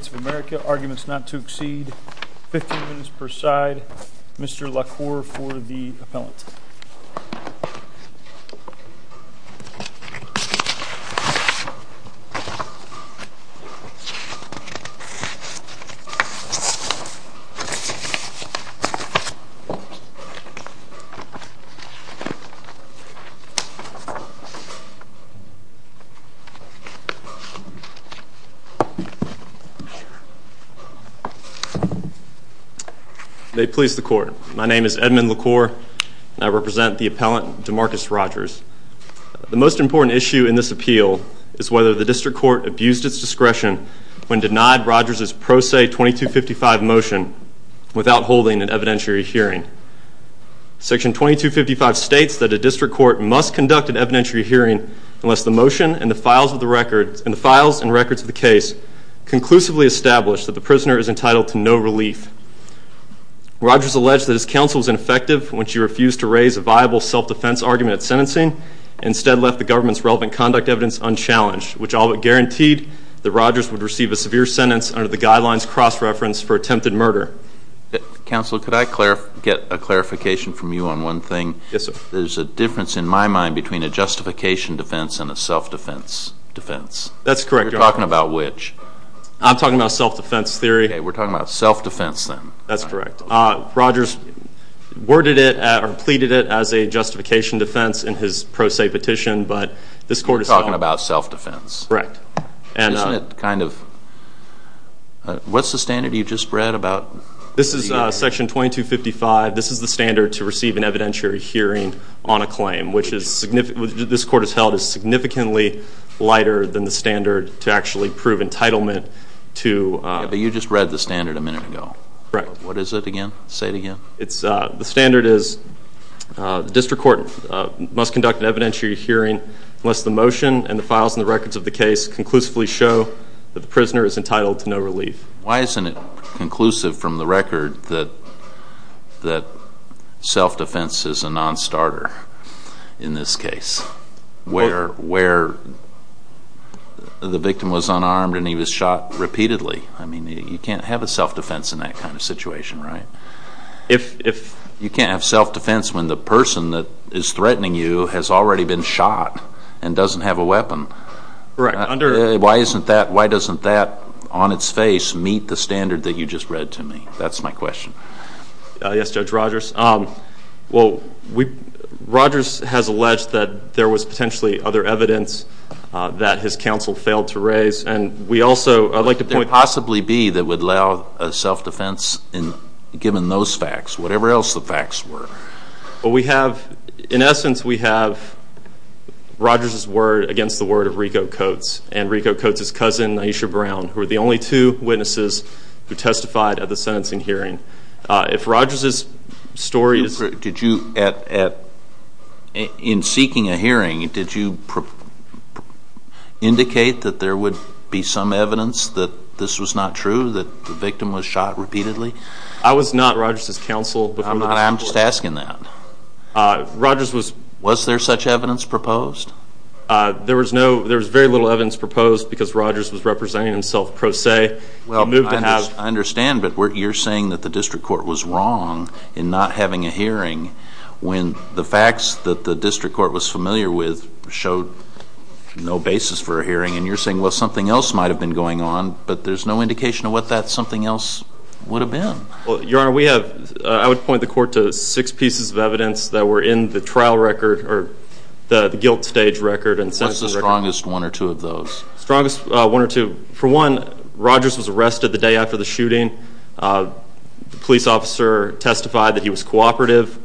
of America, arguments not to exceed 15 minutes per side. Mr. LaCour for the appellant. May it please the court, my name is Edmund LaCour and I represent the appellant Demarcus Rogers. The most important issue in this appeal is whether the district court abused its discretion when denied Rogers' pro se 2255 motion without holding an evidentiary hearing. Section 2255 states that a district court must conduct an evidentiary hearing unless the motion and the files and records of the case conclusively establish that the prisoner is entitled to no relief. Rogers alleged that his counsel was ineffective when she refused to raise a viable self-defense argument at sentencing and instead left the government's relevant conduct evidence unchallenged, which all but guaranteed that Rogers would receive a severe sentence under the guidelines cross-reference for attempted murder. Counsel, could I get a clarification from you on one thing? Yes, sir. There's a difference in my mind between a justification defense and a self-defense defense. That's correct, Your Honor. You're talking about which? I'm talking about self-defense theory. Okay, we're talking about self-defense then. That's correct. Rogers worded it or pleaded it as a justification defense in his pro se petition, but this court is… You're talking about self-defense. Correct. Isn't it kind of… What's the standard you just read about? This is section 2255. This is the standard to receive an evidentiary hearing on a claim, which this court has held is significantly lighter than the standard to actually prove entitlement to… Yeah, but you just read the standard a minute ago. Correct. What is it again? Say it again. The standard is the district court must conduct an evidentiary hearing unless the motion and the files and the records of the case conclusively show that the prisoner is entitled to no relief. Why isn't it conclusive from the record that self-defense is a non-starter in this case where the victim was unarmed and he was shot repeatedly? I mean, you can't have a self-defense in that kind of situation, right? You can't have self-defense when the person that is threatening you has already been shot and doesn't have a weapon. Correct. Why doesn't that on its face meet the standard that you just read to me? That's my question. Yes, Judge Rogers. Well, Rogers has alleged that there was potentially other evidence that his counsel failed to raise, and we also… What could it possibly be that would allow a self-defense given those facts, whatever else the facts were? Well, we have, in essence, we have Rogers' word against the word of Rico Coates and Rico Coates' cousin, Aisha Brown, who are the only two witnesses who testified at the sentencing hearing. If Rogers' story is… In seeking a hearing, did you indicate that there would be some evidence that this was not true, that the victim was shot repeatedly? I was not Rogers' counsel. I'm just asking that. Rogers was… Was there such evidence proposed? There was very little evidence proposed because Rogers was representing himself pro se. I understand, but you're saying that the district court was wrong in not having a hearing when the facts that the district court was familiar with showed no basis for a hearing, and you're saying, well, something else might have been going on, but there's no indication of what that something else would have been. Your Honor, we have, I would point the court to six pieces of evidence that were in the trial record or the guilt stage record. What's the strongest one or two of those? Strongest one or two, for one, Rogers was arrested the day after the shooting. The police officer testified that he was cooperative.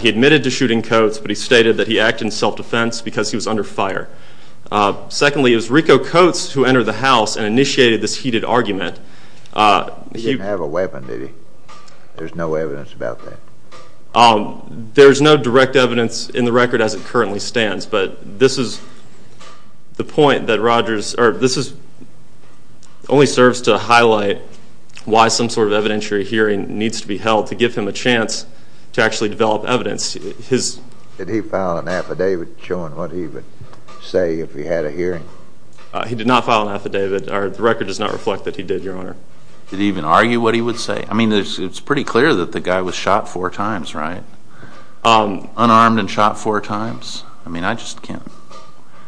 He admitted to shooting Coates, but he stated that he acted in self-defense because he was under fire. Secondly, it was Rico Coates who entered the house and initiated this heated argument. He didn't have a weapon, did he? There's no evidence about that. There's no direct evidence in the record as it currently stands, but this only serves to highlight why some sort of evidentiary hearing needs to be held to give him a chance to actually develop evidence. Did he file an affidavit showing what he would say if he had a hearing? He did not file an affidavit. The record does not reflect that he did, Your Honor. Did he even argue what he would say? I mean, it's pretty clear that the guy was shot four times, right? Unarmed and shot four times? I mean, I just can't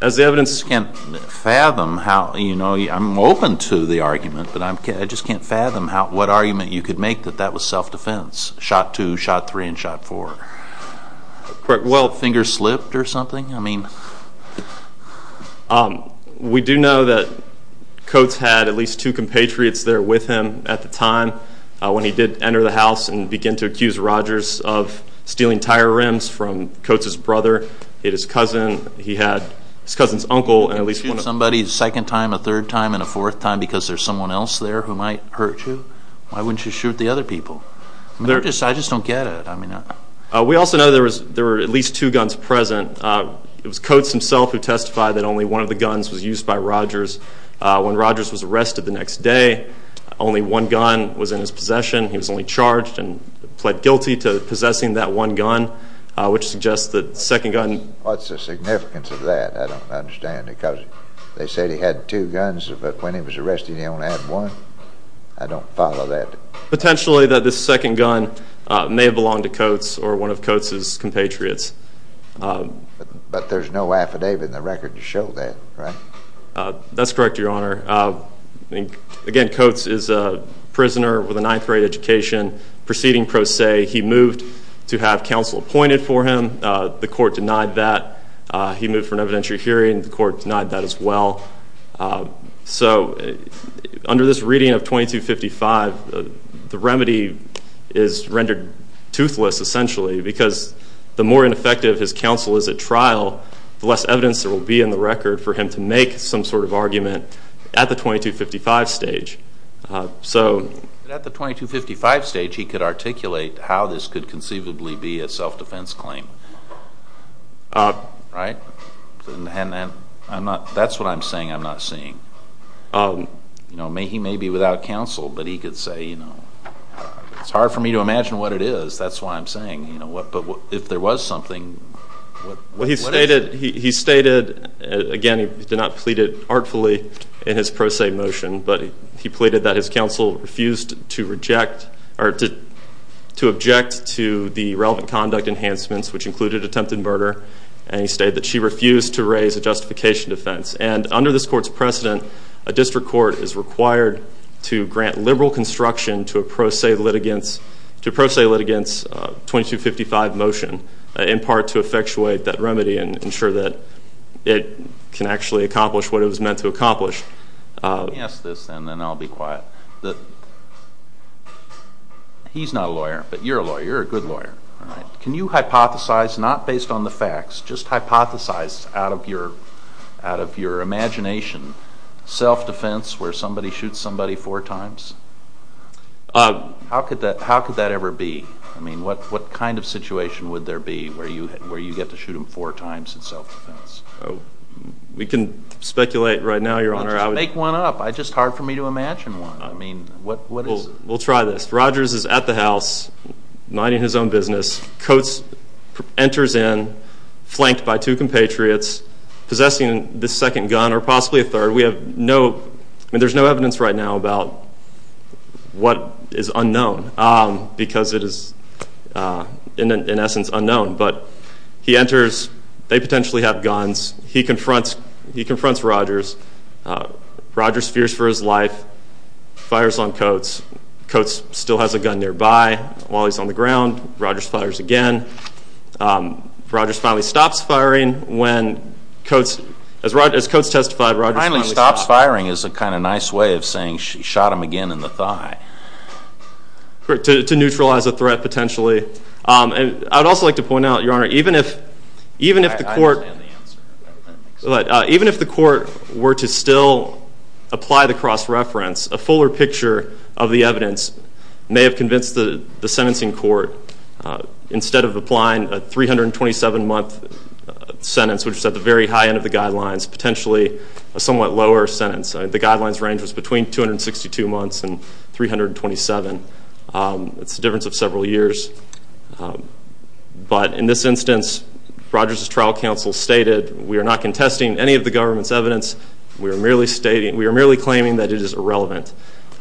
fathom how, you know, I'm open to the argument, but I just can't fathom what argument you could make that that was self-defense, shot two, shot three, and shot four. Well, fingers slipped or something? We do know that Coates had at least two compatriots there with him at the time when he did enter the house and begin to accuse Rogers of stealing tire rims from Coates' brother. He had his cousin. He had his cousin's uncle and at least one of them. Can you shoot somebody a second time, a third time, and a fourth time because there's someone else there who might hurt you? Why wouldn't you shoot the other people? I just don't get it. We also know there were at least two guns present. It was Coates himself who testified that only one of the guns was used by Rogers. When Rogers was arrested the next day, only one gun was in his possession. He was only charged and pled guilty to possessing that one gun, which suggests that the second gun. What's the significance of that? I don't understand because they said he had two guns, but when he was arrested he only had one. I don't follow that. Potentially that the second gun may have belonged to Coates or one of Coates' compatriots. But there's no affidavit in the record to show that, right? That's correct, Your Honor. Again, Coates is a prisoner with a ninth-grade education proceeding pro se. He moved to have counsel appointed for him. The court denied that. He moved for an evidentiary hearing. The court denied that as well. So under this reading of 2255, the remedy is rendered toothless essentially because the more ineffective his counsel is at trial, the less evidence there will be in the record for him to make some sort of argument at the 2255 stage. At the 2255 stage he could articulate how this could conceivably be a self-defense claim, right? That's what I'm saying I'm not seeing. He may be without counsel, but he could say, you know, it's hard for me to imagine what it is, that's why I'm saying. But if there was something, what is it? He stated, again, he did not plead it artfully in his pro se motion, but he pleaded that his counsel refused to object to the relevant conduct enhancements, which included attempted murder. And he stated that she refused to raise a justification defense. And under this court's precedent, a district court is required to grant liberal construction to a pro se litigant's 2255 motion, in part to effectuate that remedy and ensure that it can actually accomplish what it was meant to accomplish. Let me ask this and then I'll be quiet. He's not a lawyer, but you're a lawyer, you're a good lawyer. All right. Can you hypothesize, not based on the facts, just hypothesize out of your imagination self-defense where somebody shoots somebody four times? How could that ever be? I mean, what kind of situation would there be where you get to shoot them four times in self-defense? We can speculate right now, Your Honor. Just make one up. It's just hard for me to imagine one. I mean, what is it? We'll try this. Rogers is at the house minding his own business. Coates enters in, flanked by two compatriots, possessing the second gun or possibly a third. We have no, I mean, there's no evidence right now about what is unknown because it is, in essence, unknown. But he enters. They potentially have guns. He confronts Rogers. Rogers fears for his life, fires on Coates. Coates still has a gun nearby. While he's on the ground, Rogers fires again. Rogers finally stops firing when Coates, as Coates testified, Rogers finally stopped. Finally stops firing is a kind of nice way of saying she shot him again in the thigh. To neutralize a threat potentially. And I'd also like to point out, Your Honor, even if the court were to still apply the cross-reference, a fuller picture of the evidence may have convinced the sentencing court, instead of applying a 327-month sentence, which is at the very high end of the guidelines, potentially a somewhat lower sentence. The guidelines range was between 262 months and 327. It's the difference of several years. But in this instance, Rogers' trial counsel stated, we are not contesting any of the government's evidence. We are merely claiming that it is irrelevant. It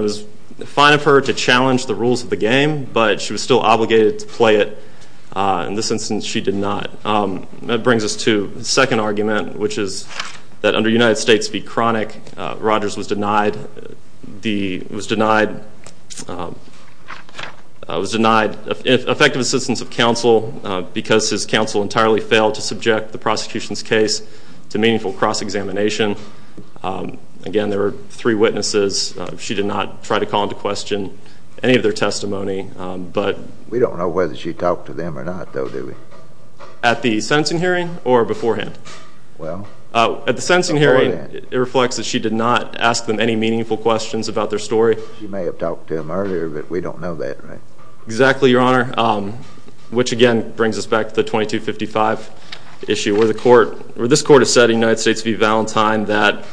was fine of her to challenge the rules of the game, but she was still obligated to play it. In this instance, she did not. That brings us to the second argument, which is that under United States v. Cronic, Rogers was denied effective assistance of counsel because his counsel entirely failed to subject the prosecution's case to meaningful cross-examination. Again, there were three witnesses. She did not try to call into question any of their testimony. We don't know whether she talked to them or not, though, do we? At the sentencing hearing or beforehand? Well, before then. At the sentencing hearing, it reflects that she did not ask them any meaningful questions about their story. She may have talked to them earlier, but we don't know that, right? Exactly, Your Honor, which again brings us back to the 2255 issue, where this court has said in United States v. Valentine that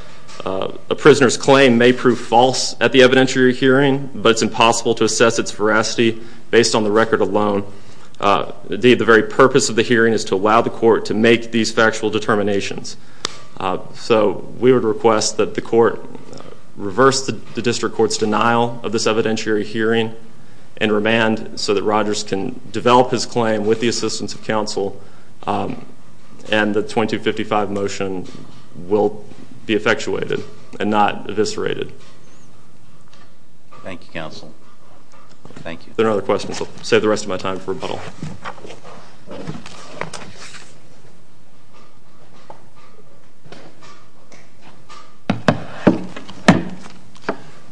a prisoner's claim may prove false at the evidentiary hearing, but it's impossible to assess its veracity based on the record alone. Indeed, the very purpose of the hearing is to allow the court to make these factual determinations. So we would request that the court reverse the district court's denial of this evidentiary hearing and remand so that Rogers can develop his claim with the assistance of counsel and the 2255 motion will be effectuated and not eviscerated. Thank you, counsel. Thank you. If there are no other questions, I'll save the rest of my time for rebuttal.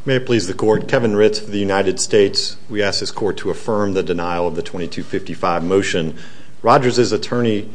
May it please the court, Kevin Ritz of the United States. We ask this court to affirm the denial of the 2255 motion. Rogers' attorney's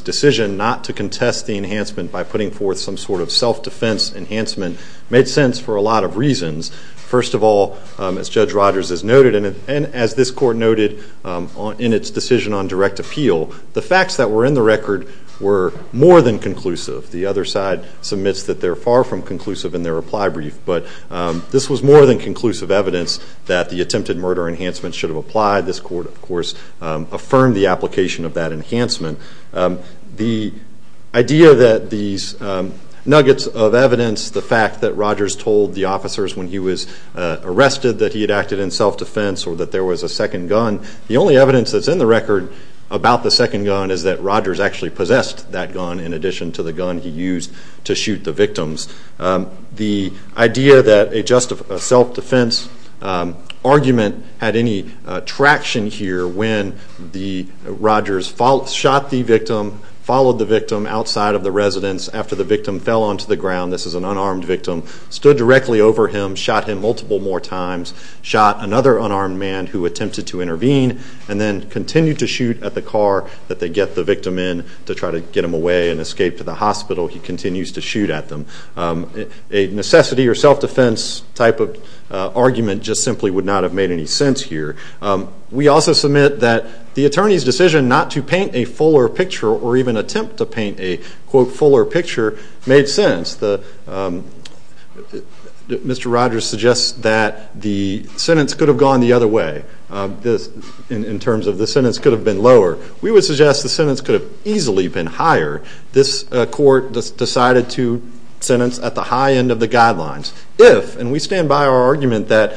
decision not to contest the enhancement by putting forth some sort of self-defense enhancement made sense for a lot of reasons. First of all, as Judge Rogers has noted and as this court noted in its decision on direct appeal, the facts that were in the record were more than conclusive. The other side submits that they're far from conclusive in their reply brief, but this was more than conclusive evidence that the attempted murder enhancement should have applied. This court, of course, affirmed the application of that enhancement. The idea that these nuggets of evidence, the fact that Rogers told the officers when he was arrested that he had acted in self-defense or that there was a second gun, the only evidence that's in the record about the second gun is that Rogers actually possessed that gun in addition to the gun he used to shoot the victims. The idea that a self-defense argument had any traction here when Rogers shot the victim, followed the victim outside of the residence after the victim fell onto the ground, this is an unarmed victim, stood directly over him, shot him multiple more times, shot another unarmed man who attempted to intervene, and then continued to shoot at the car that they get the victim in to try to get him away and escape to the hospital. He continues to shoot at them. A necessity or self-defense type of argument just simply would not have made any sense here. We also submit that the attorney's decision not to paint a fuller picture or even attempt to paint a, quote, fuller picture made sense. Mr. Rogers suggests that the sentence could have gone the other way in terms of the sentence could have been lower. We would suggest the sentence could have easily been higher. This court decided to sentence at the high end of the guidelines. If, and we stand by our argument that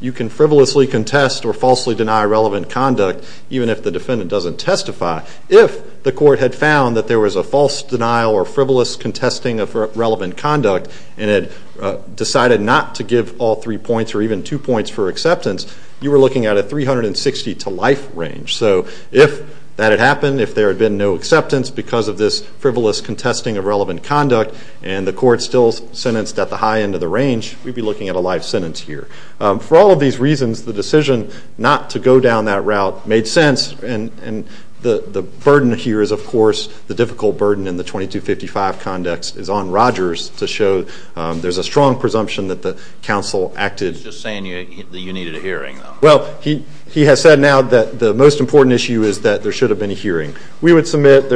you can frivolously contest or falsely deny relevant conduct, even if the defendant doesn't testify, if the court had found that there was a false denial or frivolous contesting of relevant conduct and had decided not to give all three points or even two points for acceptance, you were looking at a 360 to life range. So if that had happened, if there had been no acceptance because of this frivolous contesting of relevant conduct and the court still sentenced at the high end of the range, we'd be looking at a life sentence here. For all of these reasons, the decision not to go down that route made sense. And the burden here is, of course, the difficult burden in the 2255 context is on Rogers to show there's a strong presumption that the counsel acted. He's just saying that you needed a hearing, though. Well, he has said now that the most important issue is that there should have been a hearing. We would submit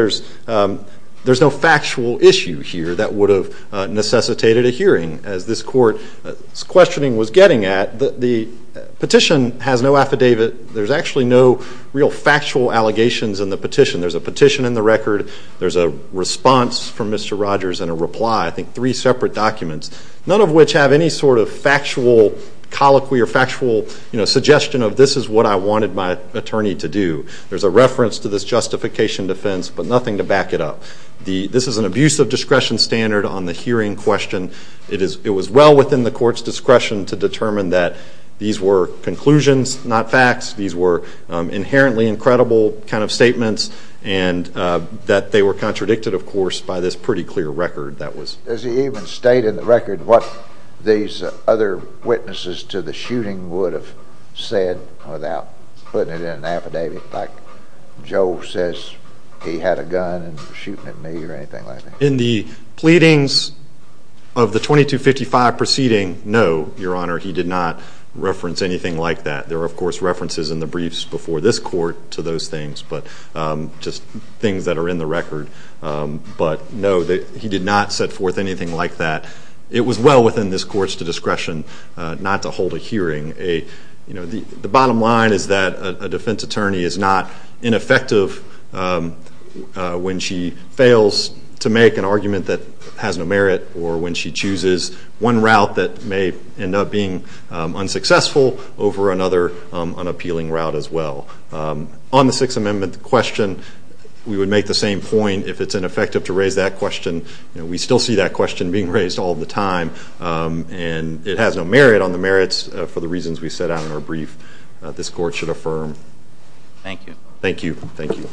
there's no factual issue here that would have necessitated a hearing, as this court's questioning was getting at. The petition has no affidavit. There's actually no real factual allegations in the petition. There's a petition in the record. There's a response from Mr. Rogers and a reply, I think three separate documents, none of which have any sort of factual colloquy or factual suggestion of this is what I wanted my attorney to do. There's a reference to this justification defense, but nothing to back it up. This is an abuse of discretion standard on the hearing question. It was well within the court's discretion to determine that these were conclusions, not facts. These were inherently incredible kind of statements and that they were contradicted, of course, by this pretty clear record. Does he even state in the record what these other witnesses to the shooting would have said without putting it in an affidavit, like Joe says he had a gun and was shooting at me or anything like that? In the pleadings of the 2255 proceeding, no, Your Honor, he did not reference anything like that. There are, of course, references in the briefs before this court to those things, but just things that are in the record. But no, he did not set forth anything like that. It was well within this court's discretion not to hold a hearing. The bottom line is that a defense attorney is not ineffective when she fails to make an argument that has no merit or when she chooses one route that may end up being unsuccessful over another unappealing route as well. On the Sixth Amendment question, we would make the same point. If it's ineffective to raise that question, we still see that question being raised all the time, and it has no merit on the merits for the reasons we set out in our brief this court should affirm. Thank you. Thank you. Thank you.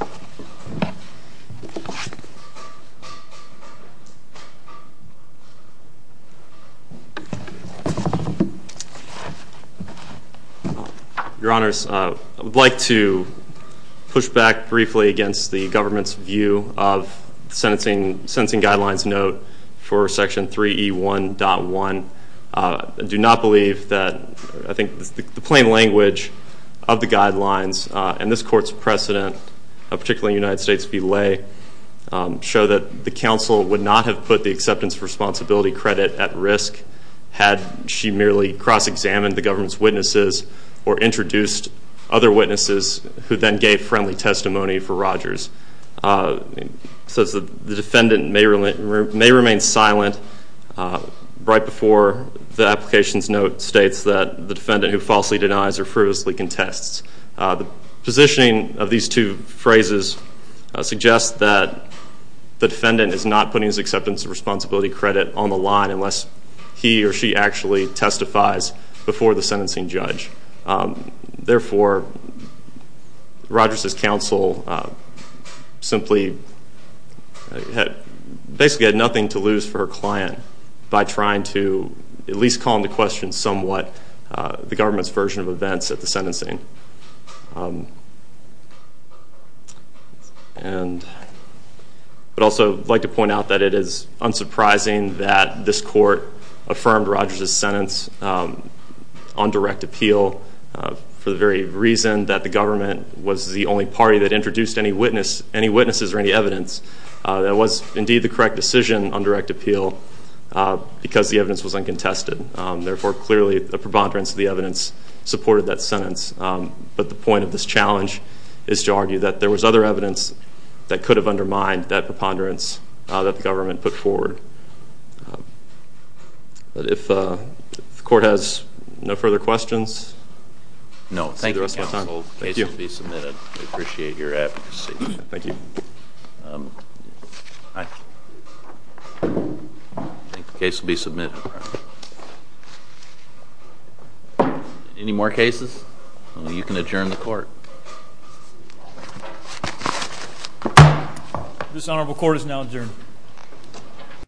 Your Honors, I would like to push back briefly against the government's view of the Sentencing Guidelines Note for Section 3E1.1. I do not believe that, I think the plain language of the guidelines and this court's precedent, particularly in the United States belay, show that the counsel would not have put the acceptance of responsibility credit at risk had she merely cross-examined the government's witnesses or introduced other witnesses such that the defendant may remain silent right before the application's note states that the defendant who falsely denies or frivolously contests. The positioning of these two phrases suggests that the defendant is not putting his acceptance of responsibility credit on the line unless he or she actually testifies before the sentencing judge. Therefore, Rogers' counsel simply basically had nothing to lose for her client by trying to at least call into question somewhat the government's version of events at the sentencing. I would also like to point out that it is unsurprising that this court affirmed Rogers' sentence on direct appeal for the very reason that the government was the only party that introduced any witnesses or any evidence that was indeed the correct decision on direct appeal because the evidence was uncontested. Therefore, clearly the preponderance of the evidence supported that sentence. But the point of this challenge is to argue that there was other evidence that could have undermined that preponderance that the government put forward. But if the court has no further questions, see you the rest of the time. No. Thank you, counsel. The case will be submitted. We appreciate your advocacy. Thank you. I think the case will be submitted. Any more cases? You can adjourn the court. This honorable court is now adjourned.